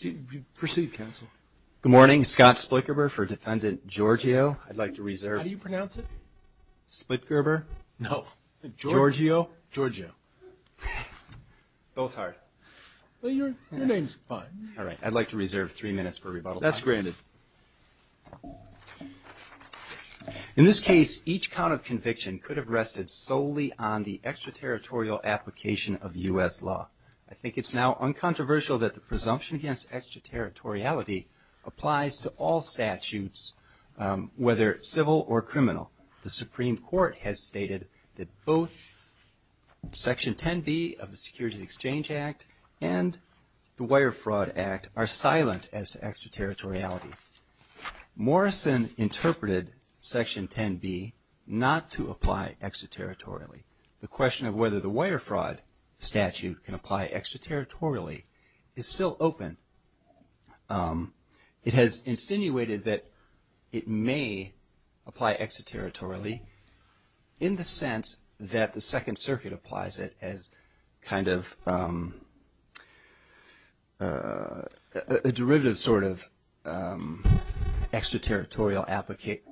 Good morning, Scott Splitgerber for Defendant Georgiou. I'd like to reserve three minutes for rebuttal. That's granted. In this case, each count of conviction could have rested solely on the extraterritorial application of U.S. law. I think it's now uncontroversial that the presumption against extraterritoriality applies to all statutes, whether civil or criminal. The Supreme Court has stated that both Section 10b of the Securities Exchange Act and the Wire Fraud Act are silent as to extraterritoriality. Morrison interpreted Section 10b not to apply extraterritorially. The question of whether the Wire Fraud statute can apply extraterritorially is still open. It has insinuated that it may apply extraterritorially in the sense that the Second Circuit applies it as kind of a derivative sort of extraterritorial application.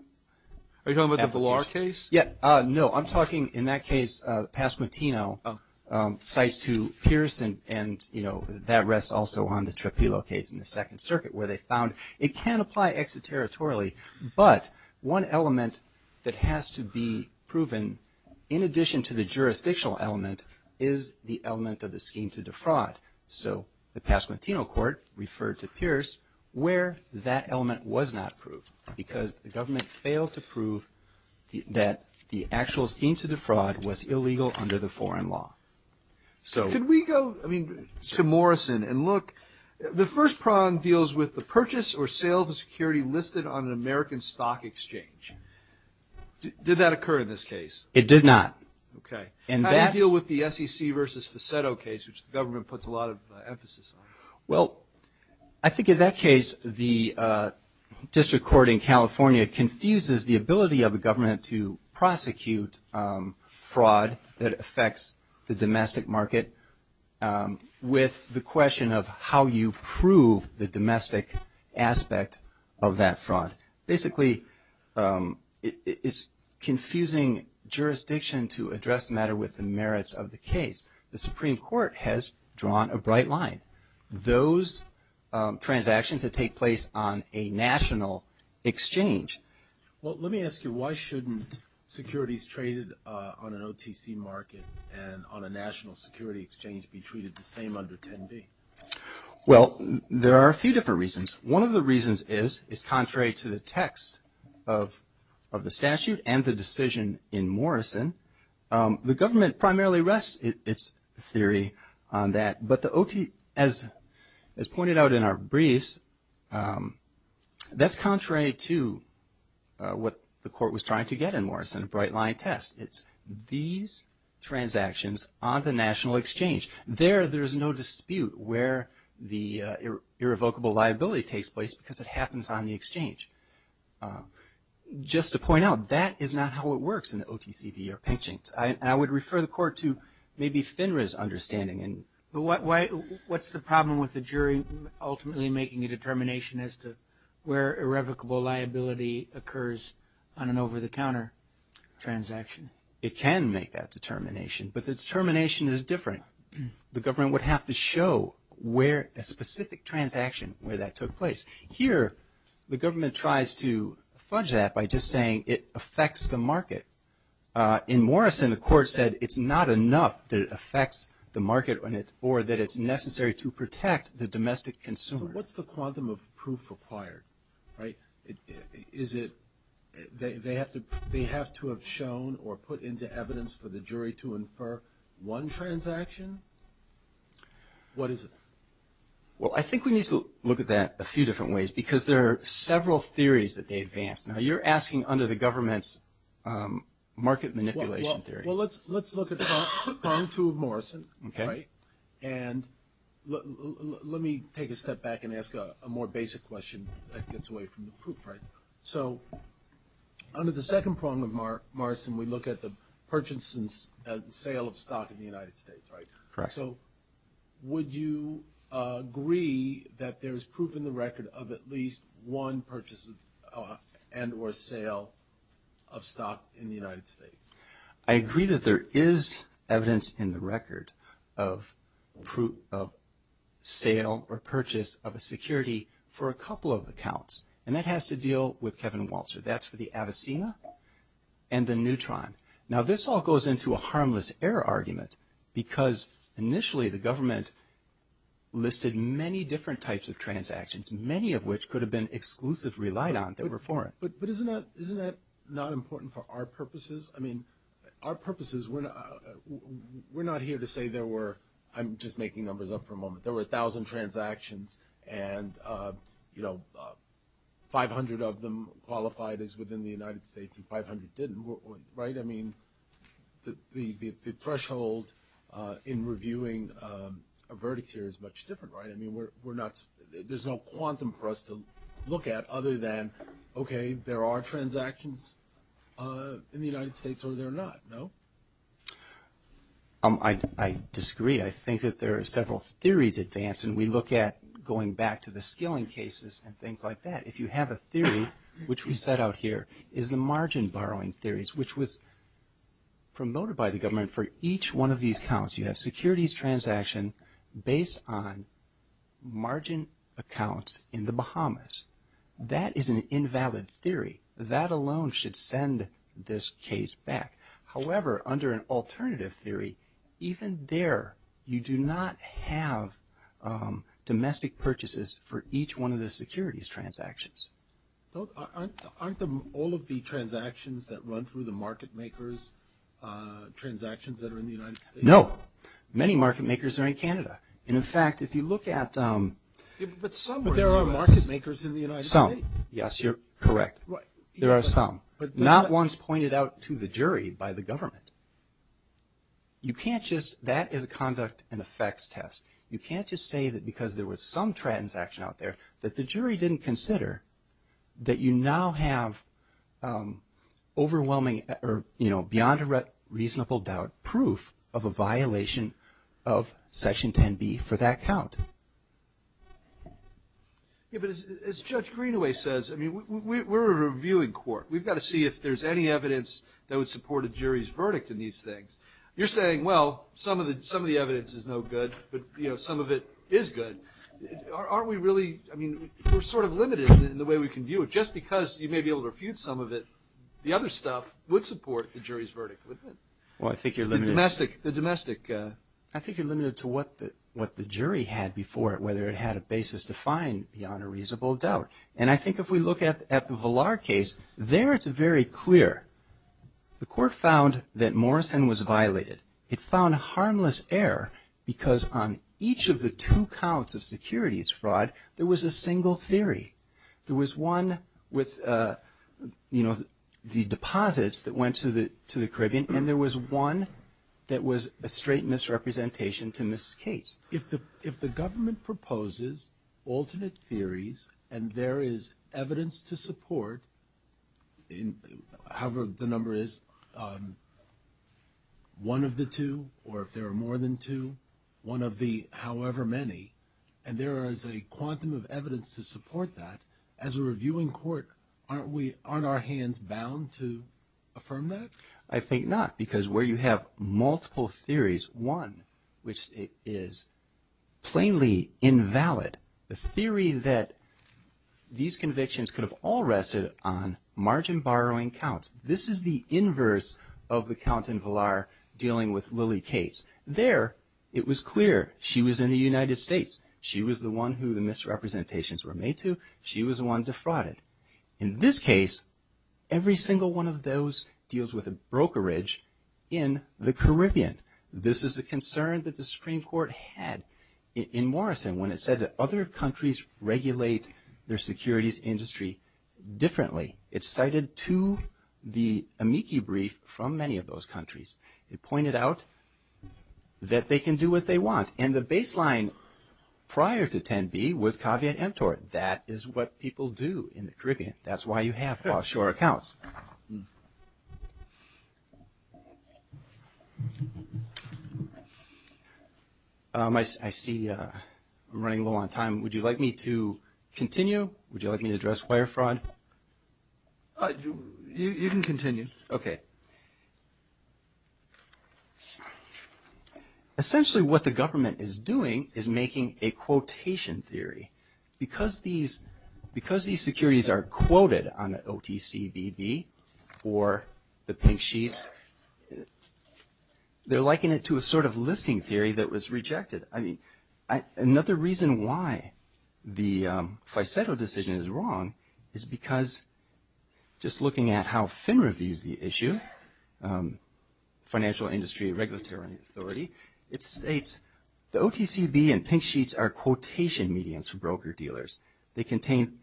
Are you talking about the Villar case? Yeah. No, I'm talking in that case, Pasquimitino cites to Pierce and, you know, that rests also on the Trepillo case in the Second Circuit where they found it can apply extraterritorially, but one element that has to be proven in addition to the jurisdictional element is the element of the scheme to defraud. So the Pasquimitino court referred to Pierce where that element was not proved because the government failed to prove that the actual scheme to defraud was illegal under the foreign law. So could we go, I mean, to Morrison and look, the first prong deals with the purchase or sale of a security listed on an American stock exchange. Did that occur in this case? It did not. Okay. How do you deal with the SEC v. Facetto case, which the government puts a lot of emphasis on? Well, I think in that case, the district court in California confuses the ability of a government to prosecute fraud that affects the domestic market with the question of how you prove the domestic aspect of that fraud. Basically, it's confusing jurisdiction to address the merits of the case. The Supreme Court has drawn a bright line. Those transactions that take place on a national exchange. Well, let me ask you, why shouldn't securities traded on an OTC market and on a national security exchange be treated the same under 10B? Well, there are a few different reasons. One of the reasons is, is contrary to the text of the statute and the decision in Morrison, the government primarily rests its theory on that. But the OTC, as pointed out in our briefs, that's contrary to what the court was trying to get in Morrison, a bright line test. It's these transactions on the national exchange. There, there's no dispute where the irrevocable liability takes place because it happens on the exchange. Just to point out, that is not how it works in the OTCP or Pinching. I would refer the court to maybe FINRA's understanding. But why, what's the problem with the jury ultimately making a determination as to where irrevocable liability occurs on an over-the-counter transaction? It can make that determination, but the determination is different. The government would have to show where a specific transaction, where that took place. Here, the government tries to fudge that by just saying it affects the market. In Morrison, the court said it's not enough that it affects the market on it or that it's necessary to protect the domestic consumer. What's the quantum of proof required, right? Is it, they have to, they have to have shown or put into evidence for the jury to infer one transaction? What is it? Well, I think we need to look at that a few different ways because there are several theories that they advance. Now, you're asking under the government's market manipulation theory. Well, let's, let's look at prong two of Morrison, right? And let, let me take a step back and ask a more basic question that gets away from the proof, right? So, under the second prong of Morrison, we look at the purchase and sale of stock in the United States, right? So would you agree that there's proof in the record of at least one purchase and or sale of stock in the United States? I agree that there is evidence in the record of sale or purchase of a security for a couple of accounts, and that has to deal with Kevin Walzer. That's for the Avicenna and the Neutron. Now this all goes into a harmless error argument because initially the government listed many different types of transactions, many of which could have been exclusively relied on that were foreign. But, but isn't that, isn't that not important for our purposes? I mean, our purposes, we're not here to say there were, I'm just making numbers up for a moment, there were a thousand transactions and, you know, 500 of them qualified as within the United States and 500 didn't, right? I mean, the, the, the threshold in reviewing a verdict here is much different, right? I mean, we're, we're not, there's no quantum for us to look at other than, okay, there are transactions in the United States or they're not, no? I, I disagree. I think that there are several theories advanced and we look at going back to the skilling cases and things like that. If you have a theory, which we set out here, is the margin borrowing theories, which was promoted by the government for each one of these counts. You have securities transaction based on margin accounts in the Bahamas. That is an invalid theory. That alone should send this case back. However, under an alternative theory, even there, you do not have domestic purchases for each one of the securities transactions. Don't, aren't, aren't the, all of the transactions that run through the market makers, transactions that are in the United States? No. Many market makers are in Canada. And in fact, if you look at, but some, but there are market makers in the United States. Some. Yes, you're correct. There are some, but not ones pointed out to the jury by the government. You can't just, that is a conduct and effects test. You can't just say that because there was some transaction out there that the jury didn't consider that you now have overwhelming or, you know, beyond a reasonable doubt, proof of a violation of section 10b for that count. Yeah, but as Judge Greenaway says, I mean, we're a reviewing court. We've got to see if there's any evidence that would support a jury's verdict in these things. You're saying, well, some of the, some of the evidence is no good, but you know, some of it is good. Aren't we really, I mean, we're sort of limited in the way we can view it. Just because you may be able to refute some of it, the other stuff would support the jury's verdict, wouldn't it? Well, I think you're limited. The domestic, the domestic. I think you're limited to what the, what the jury had before it, whether it had a basis to find beyond a reasonable doubt. And I think if we look at, at the Villar case, there it's very clear. The court found that Morrison was violated. It found harmless error because on each of the two counts of securities fraud, there was a single theory. There was one with, you know, the deposits that went to the, to the Caribbean. And there was one that was a straight misrepresentation to Ms. Case. If the government proposes alternate theories and there is evidence to support, however the number is, one of the two, or if there are more than two, one of the however many, and there is a quantum of evidence to support that, as a reviewing court, aren't we, aren't our hands bound to affirm that? I think not. Because where you have multiple theories, one which is plainly invalid, the theory that these convictions could have all rested on margin borrowing counts. This is the inverse of the count in Villar dealing with Lily Case. There, it was clear she was in the United States. She was the one who the misrepresentations were made to. She was the one defrauded. In this case, every single one of those deals with brokerage in the Caribbean. This is a concern that the Supreme Court had in Morrison when it said that other countries regulate their securities industry differently. It's cited to the amici brief from many of those countries. It pointed out that they can do what they want. And the baseline prior to 10B was caveat emptor. That is what people do in the Caribbean. That's why you have offshore accounts. I see I'm running low on time. Would you like me to continue? Would you like me to address wire fraud? You can continue. Essentially what the government is doing is making a quotation theory. Because these securities are quoted on the OTCBB or the pink sheets, they're liking it to a sort of listing theory that was rejected. I mean, another reason why the Faiseto decision is wrong is because just looking at how FINRA views the issue, Financial Industry Regulatory Authority, it states the OTCBB and pink sheets are quotation medians for broker-dealers. They contain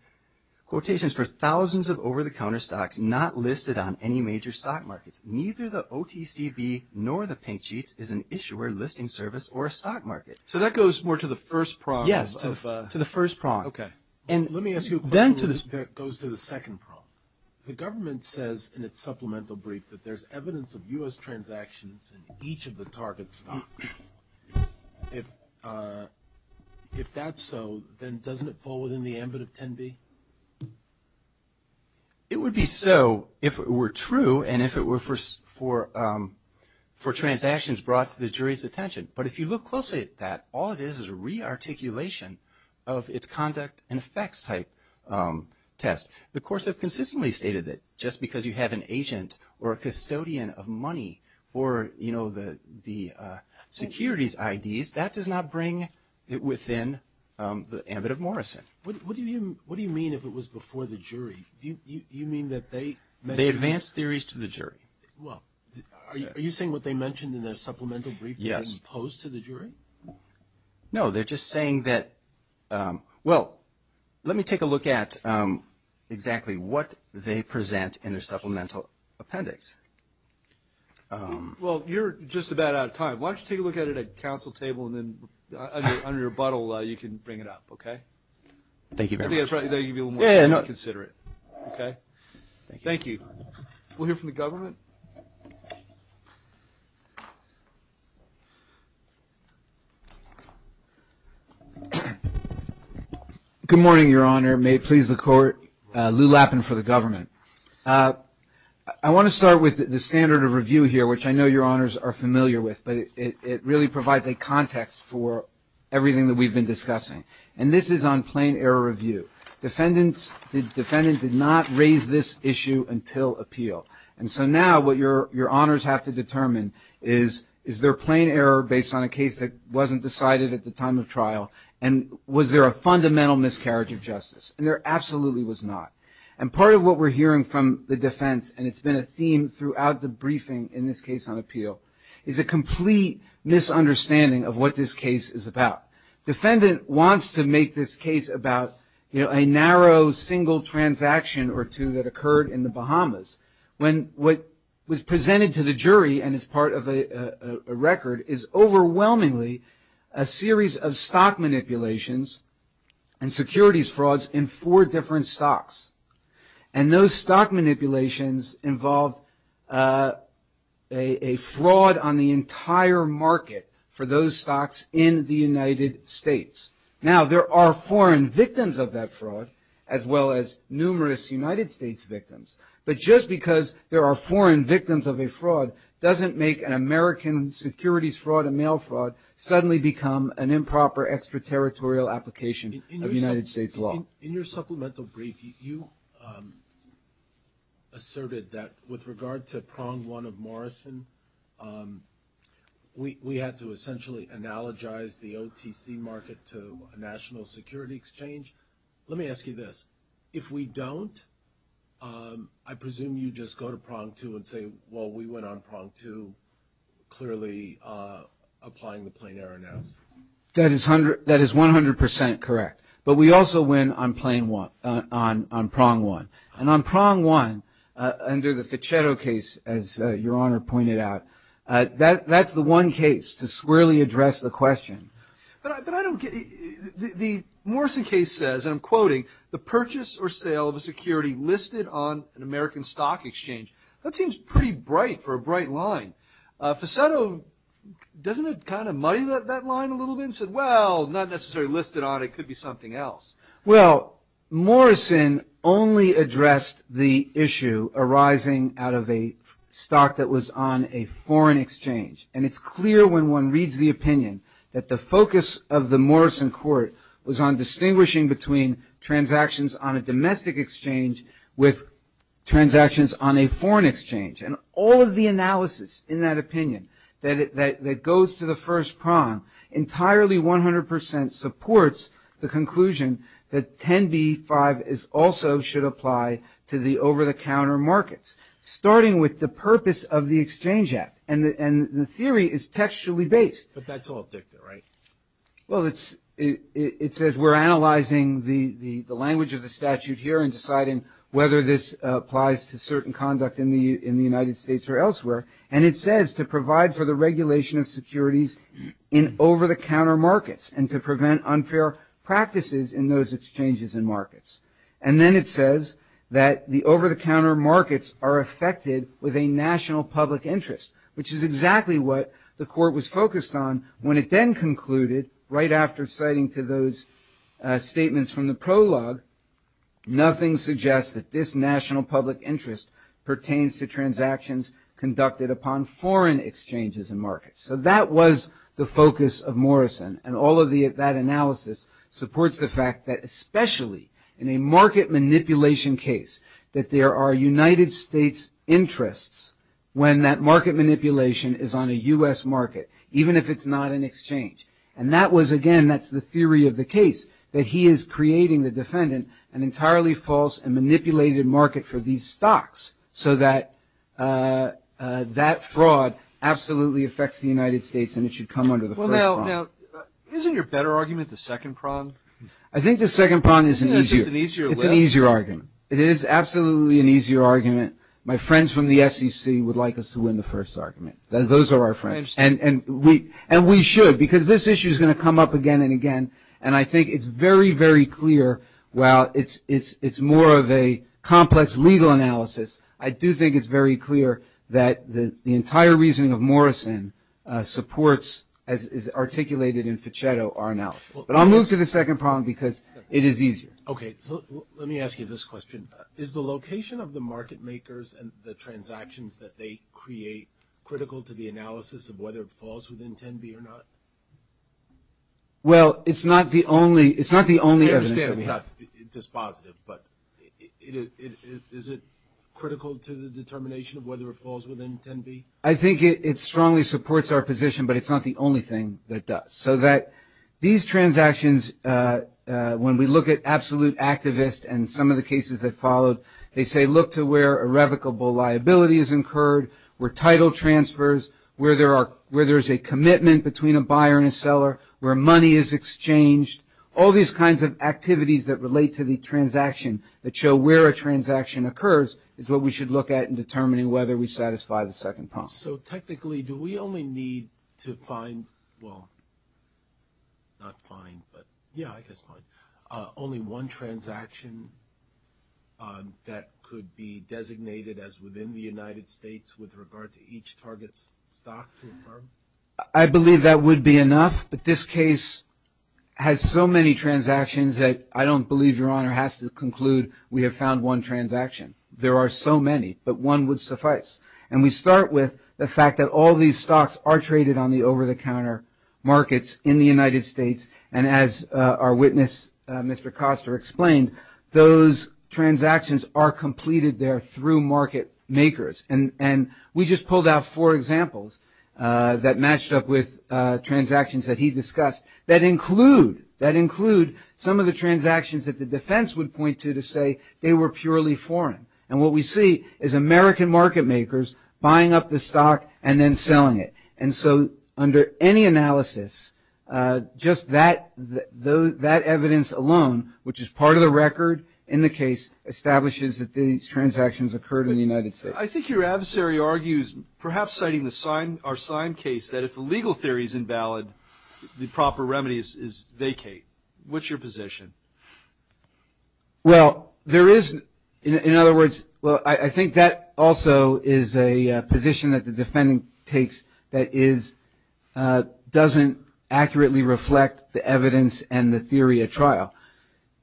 quotations for thousands of over-the-counter stocks not listed on any major stock markets. Neither the OTCBB nor the pink sheet is an issuer, listing service, or a stock market. So that goes more to the first prong. Yes, to the first prong. Okay. And let me ask you a question that goes to the second prong. The government says in its supplemental brief that there's evidence of U.S. transactions in each of the target stocks. If that's so, then doesn't it fall within the ambit of 10B? It would be so if it were true and if it were for transactions brought to the jury's attention. But if you look closely at that, all it is is a re-articulation of its conduct and effects type test. The courts have consistently stated that just because you have an agent or a custodian of money or, you know, the securities IDs, that does not bring it within the ambit of What do you mean if it was before the jury? Do you mean that they met... They advance theories to the jury. Well, are you saying what they mentioned in their supplemental brief... Yes. ...is opposed to the jury? No, they're just saying that... Well, let me take a look at exactly what they present in their supplemental appendix. Well, you're just about out of time. Why don't you take a look at it at a council table and then under your butthole, you can bring it up, okay? Thank you very much. Yeah, yeah, no. Consider it, okay? Thank you. Thank you. We'll hear from the government. Good morning, Your Honor. May it please the Court. Lou Lappin for the government. I want to start with the standard of review here, which I know Your Honors are familiar with, but it really provides a context for everything that we've been discussing. And this is on plain error review. Defendants did not raise this issue until appeal. And so now what Your Honors have to determine is, is there plain error based on a case that wasn't decided at the time of trial? And was there a fundamental miscarriage of justice? And there absolutely was not. And part of what we're hearing from the defense, and it's been a theme throughout the briefing in this case on appeal, is a complete misunderstanding of what this case is about. Defendant wants to make this case about a narrow single transaction or two that occurred in the Bahamas, when what was presented to the jury and is part of a record is overwhelmingly a series of stock manipulations and securities frauds in four different stocks. And those stock manipulations involved a fraud on the entire market for those stocks in the United States. Now there are foreign victims of that fraud, as well as numerous United States victims. But just because there are foreign victims of a fraud doesn't make an American securities fraud, a mail fraud, suddenly become an improper extraterritorial application of United States law. In your supplemental brief, you asserted that with regard to prong one of Morrison, we had to essentially analogize the OTC market to a national security exchange. Let me ask you this. If we don't, I presume you just go to prong two and say, well, we went on prong two, clearly applying the plain error analysis. That is 100% correct. But we also went on prong one. And on prong one, under the Fichetto case, as Your Honor pointed out, that's the one case to squarely address the question. The Morrison case says, and I'm quoting, the purchase or sale of a security listed on an American stock exchange. That seems pretty bright for a bright line. Fichetto, doesn't it kind of muddy that line a little bit and said, well, not necessarily listed on it. It could be something else. Well, Morrison only addressed the issue arising out of a stock that was on a foreign exchange. And it's clear when one reads the opinion that the focus of the Morrison court was on distinguishing between transactions on a domestic exchange with transactions on a foreign exchange. And all of the analysis in that opinion that goes to the first prong entirely 100% supports the conclusion that 10b-5 also should apply to the over-the-counter markets, starting with the purpose of the Exchange Act. And the theory is textually based. But that's all dicta, right? Well, it says we're analyzing the language of the statute here and deciding whether this should apply to the United States or elsewhere. And it says to provide for the regulation of securities in over-the-counter markets and to prevent unfair practices in those exchanges and markets. And then it says that the over-the-counter markets are affected with a national public interest, which is exactly what the court was focused on when it then concluded, right after citing to those statements from the prologue, nothing suggests that this national public interest pertains to transactions conducted upon foreign exchanges and markets. So that was the focus of Morrison. And all of that analysis supports the fact that especially in a market manipulation case, that there are United States interests when that market manipulation is on a U.S. market, even if it's not an exchange. And that was, again, that's the theory of the case, that he is creating, the defendant, an entirely false and manipulated market for these stocks so that that fraud absolutely affects the United States and it should come under the first prong. Well, now, isn't your better argument the second prong? I think the second prong is an easier argument. Isn't that just an easier way? It's an easier argument. It is absolutely an easier argument. My friends from the SEC would like us to win the first argument. Those are our friends. I understand. And we should, because this issue is going to come up again and again. And I think it's very, very clear, while it's more of a complex legal analysis, I do think it's very clear that the entire reasoning of Morrison supports, as is articulated in Fichetto, our analysis. But I'll move to the second prong because it is easier. Okay. So let me ask you this question. Is the location of the market makers and the transactions that they create critical to the analysis of whether it falls within 10b or not? Well, it's not the only – it's not the only evidence that we have. I understand it's not dispositive, but is it critical to the determination of whether it falls within 10b? I think it strongly supports our position, but it's not the only thing that does. So that these transactions, when we look at absolute activist and some of the cases that followed, they say look to where irrevocable liability is incurred, where title transfers, where there's a commitment between a buyer and a seller, where money is exchanged, all these kinds of activities that relate to the transaction that show where a transaction occurs is what we should look at in determining whether we satisfy the second prong. So technically, do we only need to find – well, not find, but yeah, I guess find – only one transaction that could be designated as within the United States with regard to each target stock to a firm? I believe that would be enough, but this case has so many transactions that I don't believe Your Honor has to conclude we have found one transaction. There are so many, but one would suffice. And we start with the fact that all these stocks are traded on the over-the-counter markets in the United States, and as our witness, Mr. Koster, explained, those transactions are completed there through market makers. And we just pulled out four examples that matched up with transactions that he discussed that include some of the transactions that the defense would point to to say they were purely foreign. And what we see is American market makers buying up the stock and then selling it. And so under any analysis, just that evidence alone, which is part of the record in the case, establishes that these transactions occurred in the United States. I think your adversary argues, perhaps citing our signed case, that if the legal theory is invalid, the proper remedy is vacate. What's your position? Well, there is – in other words – well, I think that also is a position that the defendant takes that is – doesn't accurately reflect the evidence and the theory at trial.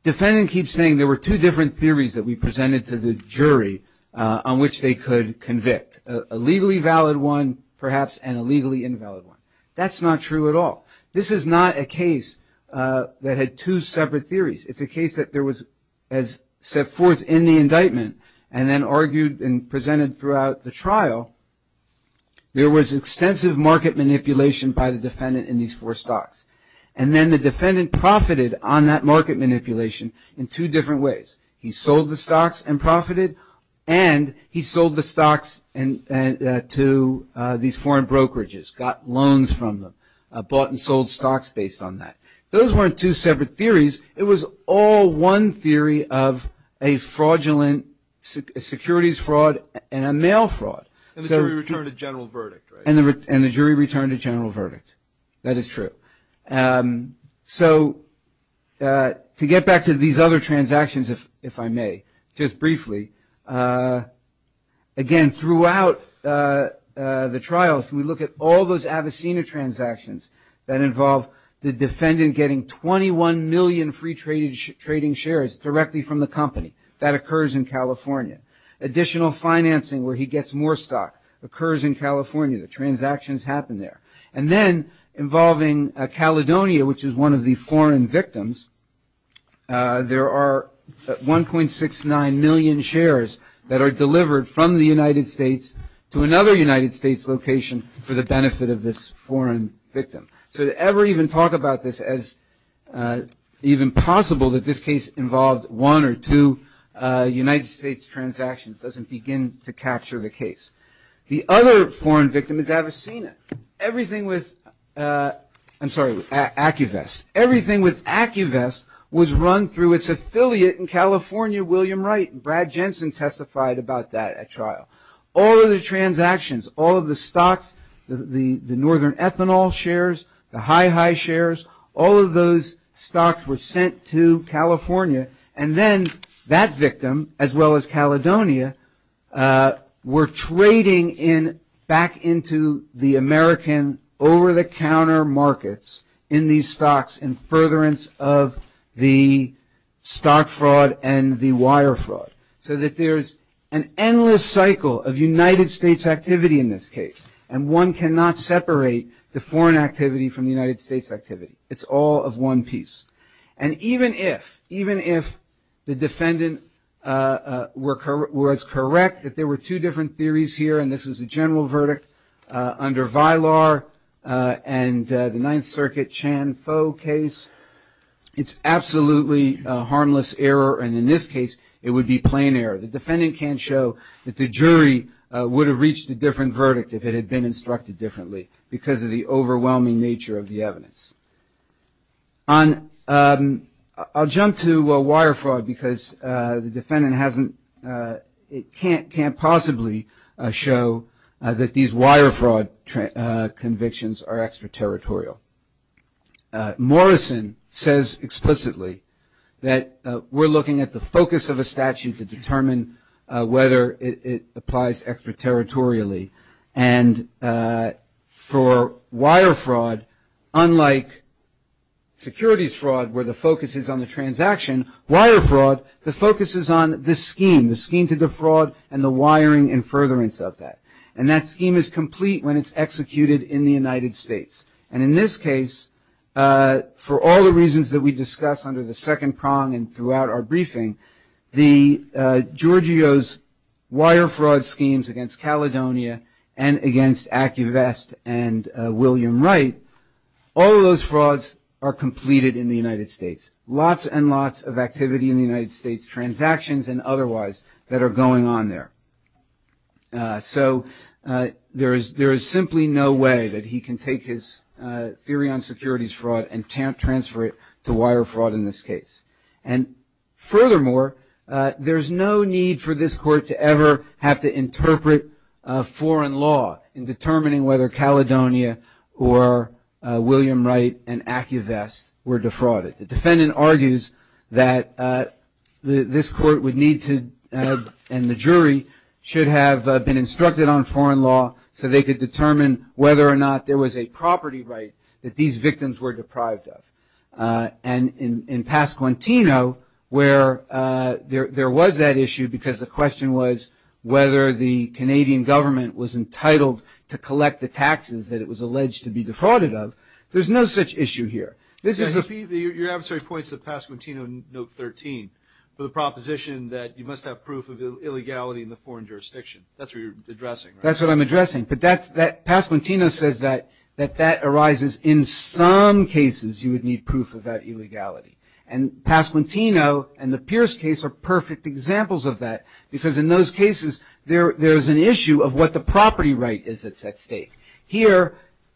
Defendant keeps saying there were two different theories that we presented to the jury on which they could convict. A legally valid one, perhaps, and a legally invalid one. That's not true at all. This is not a case that had two separate theories. It's a case that there was, as presented throughout the trial, there was extensive market manipulation by the defendant in these four stocks. And then the defendant profited on that market manipulation in two different ways. He sold the stocks and profited, and he sold the stocks to these foreign brokerages, got loans from them, bought and sold stocks based on that. Those weren't two separate theories. It was all one theory of a fraudulent securities fraud and a mail fraud. And the jury returned a general verdict, right? And the jury returned a general verdict. That is true. So to get back to these other transactions, if I may, just briefly, again, throughout the trial, if we look at all those Avicenna transactions that involve the defendant getting 21 million free trading shares directly from the company, that occurs in California. Additional financing where he gets more stock occurs in California. The transactions happen there. And then involving Caledonia, which is one of the foreign victims, there are 1.69 million shares that are delivered from the United States. So to ever even talk about this as even possible that this case involved one or two United States transactions doesn't begin to capture the case. The other foreign victim is Avicenna. Everything with, I'm sorry, with AccuVest, everything with AccuVest was run through its affiliate in California, William Wright. Brad Jensen testified about that at trial. All of the transactions, all of the stocks, the northern ethanol shares, the HiHi shares, all of those stocks were sent to California. And then that victim, as well as Caledonia, were trading back into the American over-the-counter markets in these stocks in furtherance of the stock fraud and the wire fraud. So that there's an endless cycle of United States activity in this case. And one cannot separate the foreign activity from the United States activity. It's all of one piece. And even if, even if the defendant was correct that there were two different theories here and this was a general verdict under Vilar and the Ninth Circuit Chan-Fo case, it's absolutely a harmless error. And in this case, it would be plain error. The defendant can't show that the jury would have reached a different verdict if it had been instructed differently because of the overwhelming nature of the evidence. On, I'll jump to wire fraud because the defendant hasn't, can't possibly show that these wire fraud convictions are extraterritorial. Morrison says explicitly that there are two different cases. That we're looking at the focus of a statute to determine whether it applies extraterritorially. And for wire fraud, unlike securities fraud where the focus is on the transaction, wire fraud, the focus is on the scheme. The scheme to defraud and the wiring and furtherance of that. And that scheme is complete when it's executed in the United States. And in this case, for all the reasons that we discussed under the second prong and throughout our briefing, the, Giorgio's wire fraud schemes against Caledonia and against Acuvest and William Wright, all of those frauds are completed in the United States. Lots and lots of activity in the United States, transactions and otherwise that are going on there. So, there is simply no way that he can take his theory on securities fraud and transfer it to wire fraud in this case. And furthermore, there's no need for this court to ever have to interpret foreign law in determining whether Caledonia or William Wright and Acuvest were should have been instructed on foreign law so they could determine whether or not there was a property right that these victims were deprived of. And in Pasquantino, where there was that issue because the question was whether the Canadian government was entitled to collect the taxes that it was alleged to be defrauded of, there's no such issue here. This is a few, your adversary points to Pasquantino in note 13 for the proposition that you must have proof of illegality in the foreign jurisdiction. That's what you're addressing, right? That's what I'm addressing. But Pasquantino says that that arises in some cases you would need proof of that illegality. And Pasquantino and the Pierce case are perfect examples of that because in those cases there's an issue of what the property right is at stake. Here,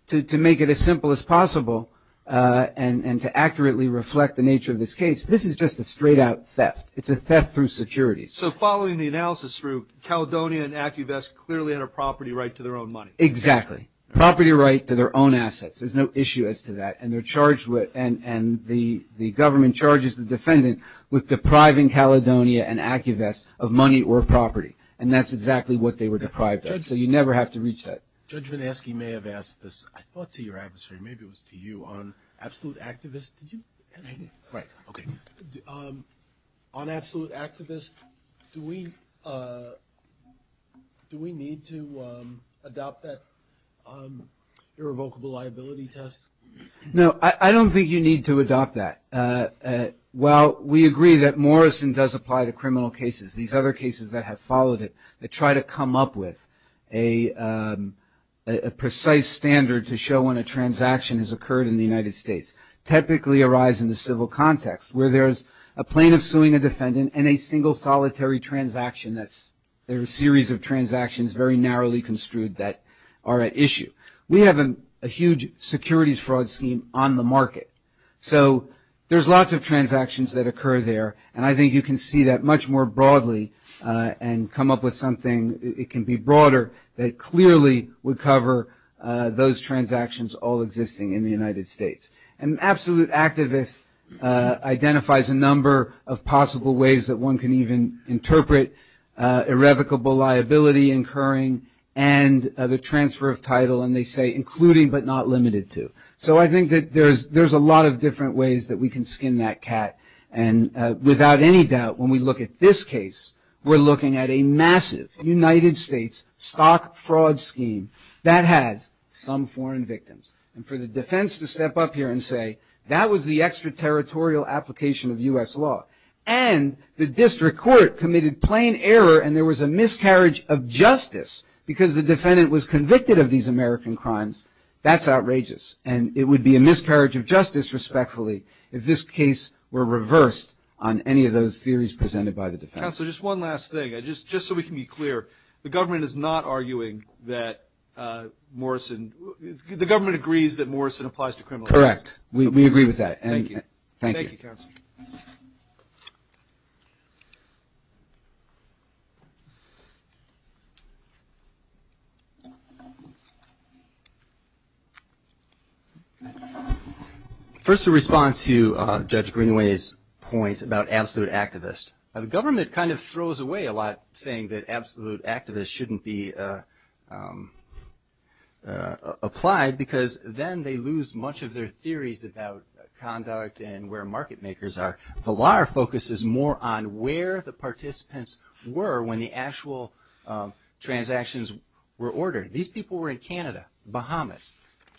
to make it as simple as possible and to accurately reflect the nature of this case, this is just a straight out theft. It's a theft through securities. So following the analysis route, Caledonia and AccuVest clearly had a property right to their own money. Exactly. Property right to their own assets. There's no issue as to that. And they're charged with, and the government charges the defendant with depriving Caledonia and AccuVest of money or property. And that's exactly what they were deprived of. So you never have to reach that. Judge Vinesky may have asked this. I thought to your adversary, maybe it was to you, on Absolute Activist, do we need to adopt that irrevocable liability test? No, I don't think you need to adopt that. While we agree that Morrison does apply to criminal cases, these other cases that have followed it that try to come up with a precise standard to show when a transaction has occurred in the United States, typically arise in the civil context where there's a plaintiff suing a defendant and a single solitary transaction that's a series of transactions very narrowly construed that are at issue. We have a huge securities fraud scheme on the market. So there's lots of transactions that occur there. And I think you can see that much more broadly and come up with something that can be broader that clearly would cover those transactions all existing in the United States. And Absolute Activist identifies a number of possible ways that one can even interpret irrevocable liability incurring and the transfer of title. And they say including but not limited to. So I think that there's a lot of different ways that we can skin that cat. And without any doubt, when we look at this case, we're looking at a massive United States stock fraud scheme that has some foreign victims. And for the defense to step up here and say that was the extraterritorial application of U.S. law and the district court committed plain error and there was a miscarriage of justice because the defendant was convicted of these American crimes, that's outrageous. And it would be a miscarriage of justice respectfully if this case were reversed on any of those theories presented by the defense. Counselor, just one last thing. Just so we can be clear, the government is not arguing that Morrison, the government agrees that Morrison applies to criminal acts. Correct. We agree with that. Thank you. Thank you. Thank you, Counselor. First, to respond to Judge Greenaway's point about Absolute Activist. The government kind of throws away a lot saying that Absolute Activist shouldn't be applied because then they lose much of their theories about conduct and where market makers are. Valar focuses more on where the participants were when the actual transactions were ordered. These people were in Canada, Bahamas.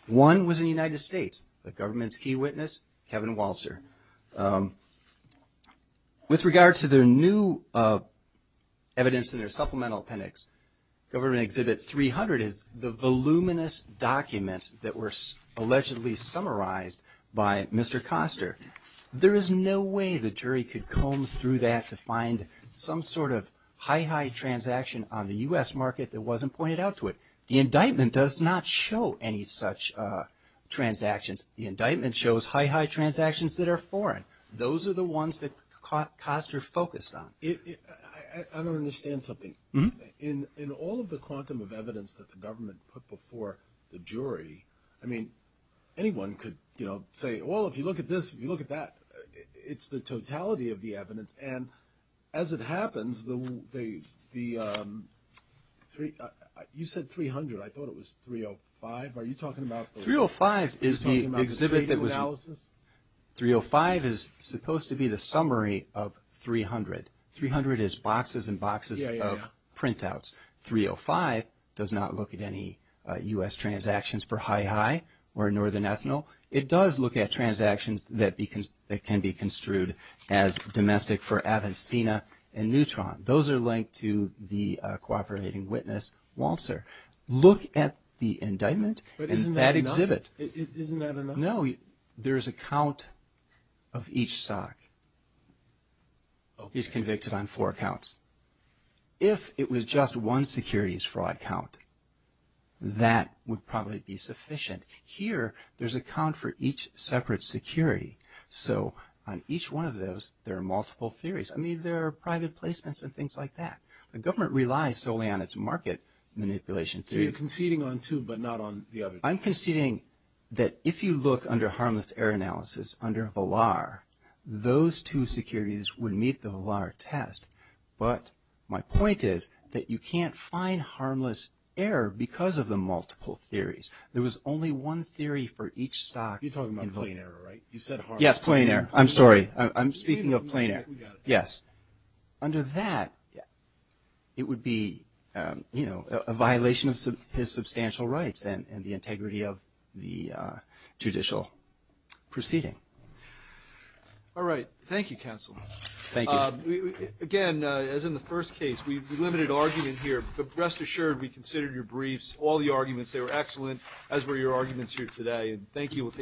One was in the United States, the government's key witness, Kevin Walser. With regard to their new evidence in their supplemental appendix, Government Exhibit 300 is the voluminous documents that were allegedly summarized by Mr. Koster. There is no way the jury could comb through that to find some sort of high-high transaction on the U.S. market that wasn't pointed out to it. The indictment does not show any such transactions. The indictment shows high-high transactions that are foreign. Those are the ones that Koster focused on. I don't understand something. In all of the quantum of evidence that the government put before the jury, I mean, anyone could say, well, if you look at this, if you look at that, it's the totality of the evidence. And as it happens, the – you said 300. I mean, what are you talking about? 305 is the exhibit that was – Are you talking about the trade analysis? 305 is supposed to be the summary of 300. 300 is boxes and boxes of printouts. Yeah, yeah, yeah. 305 does not look at any U.S. transactions for high-high or Northern ethanol. It does look at transactions that can be construed as domestic for Avancina and Neutron. Those are linked to the cooperating witness, Walzer. Look at the indictment and that exhibit. But isn't that enough? Isn't that enough? No. There is a count of each stock. He's convicted on four counts. If it was just one securities fraud count, that would probably be sufficient. Here, there's a count for each separate security. So on each one of those, there are multiple theories. I mean, there are private placements and things like that. The government relies solely on its market manipulation theory. So you're conceding on two, but not on the other two? I'm conceding that if you look under harmless error analysis, under Valar, those two securities would meet the Valar test. But my point is that you can't find harmless error because of the multiple theories. There was only one theory for each stock in Valar. You're talking about plain error, right? You said harmless error. Yes, plain error. I'm sorry. I'm speaking of plain error. We got it. Yes. Under that, it would be a violation of his substantial rights and the integrity of the judicial proceeding. All right. Thank you, counsel. Thank you. Again, as in the first case, we've delimited argument here. But rest assured, we considered your briefs, all the arguments. They were excellent, as were your arguments here today. Thank you. We'll take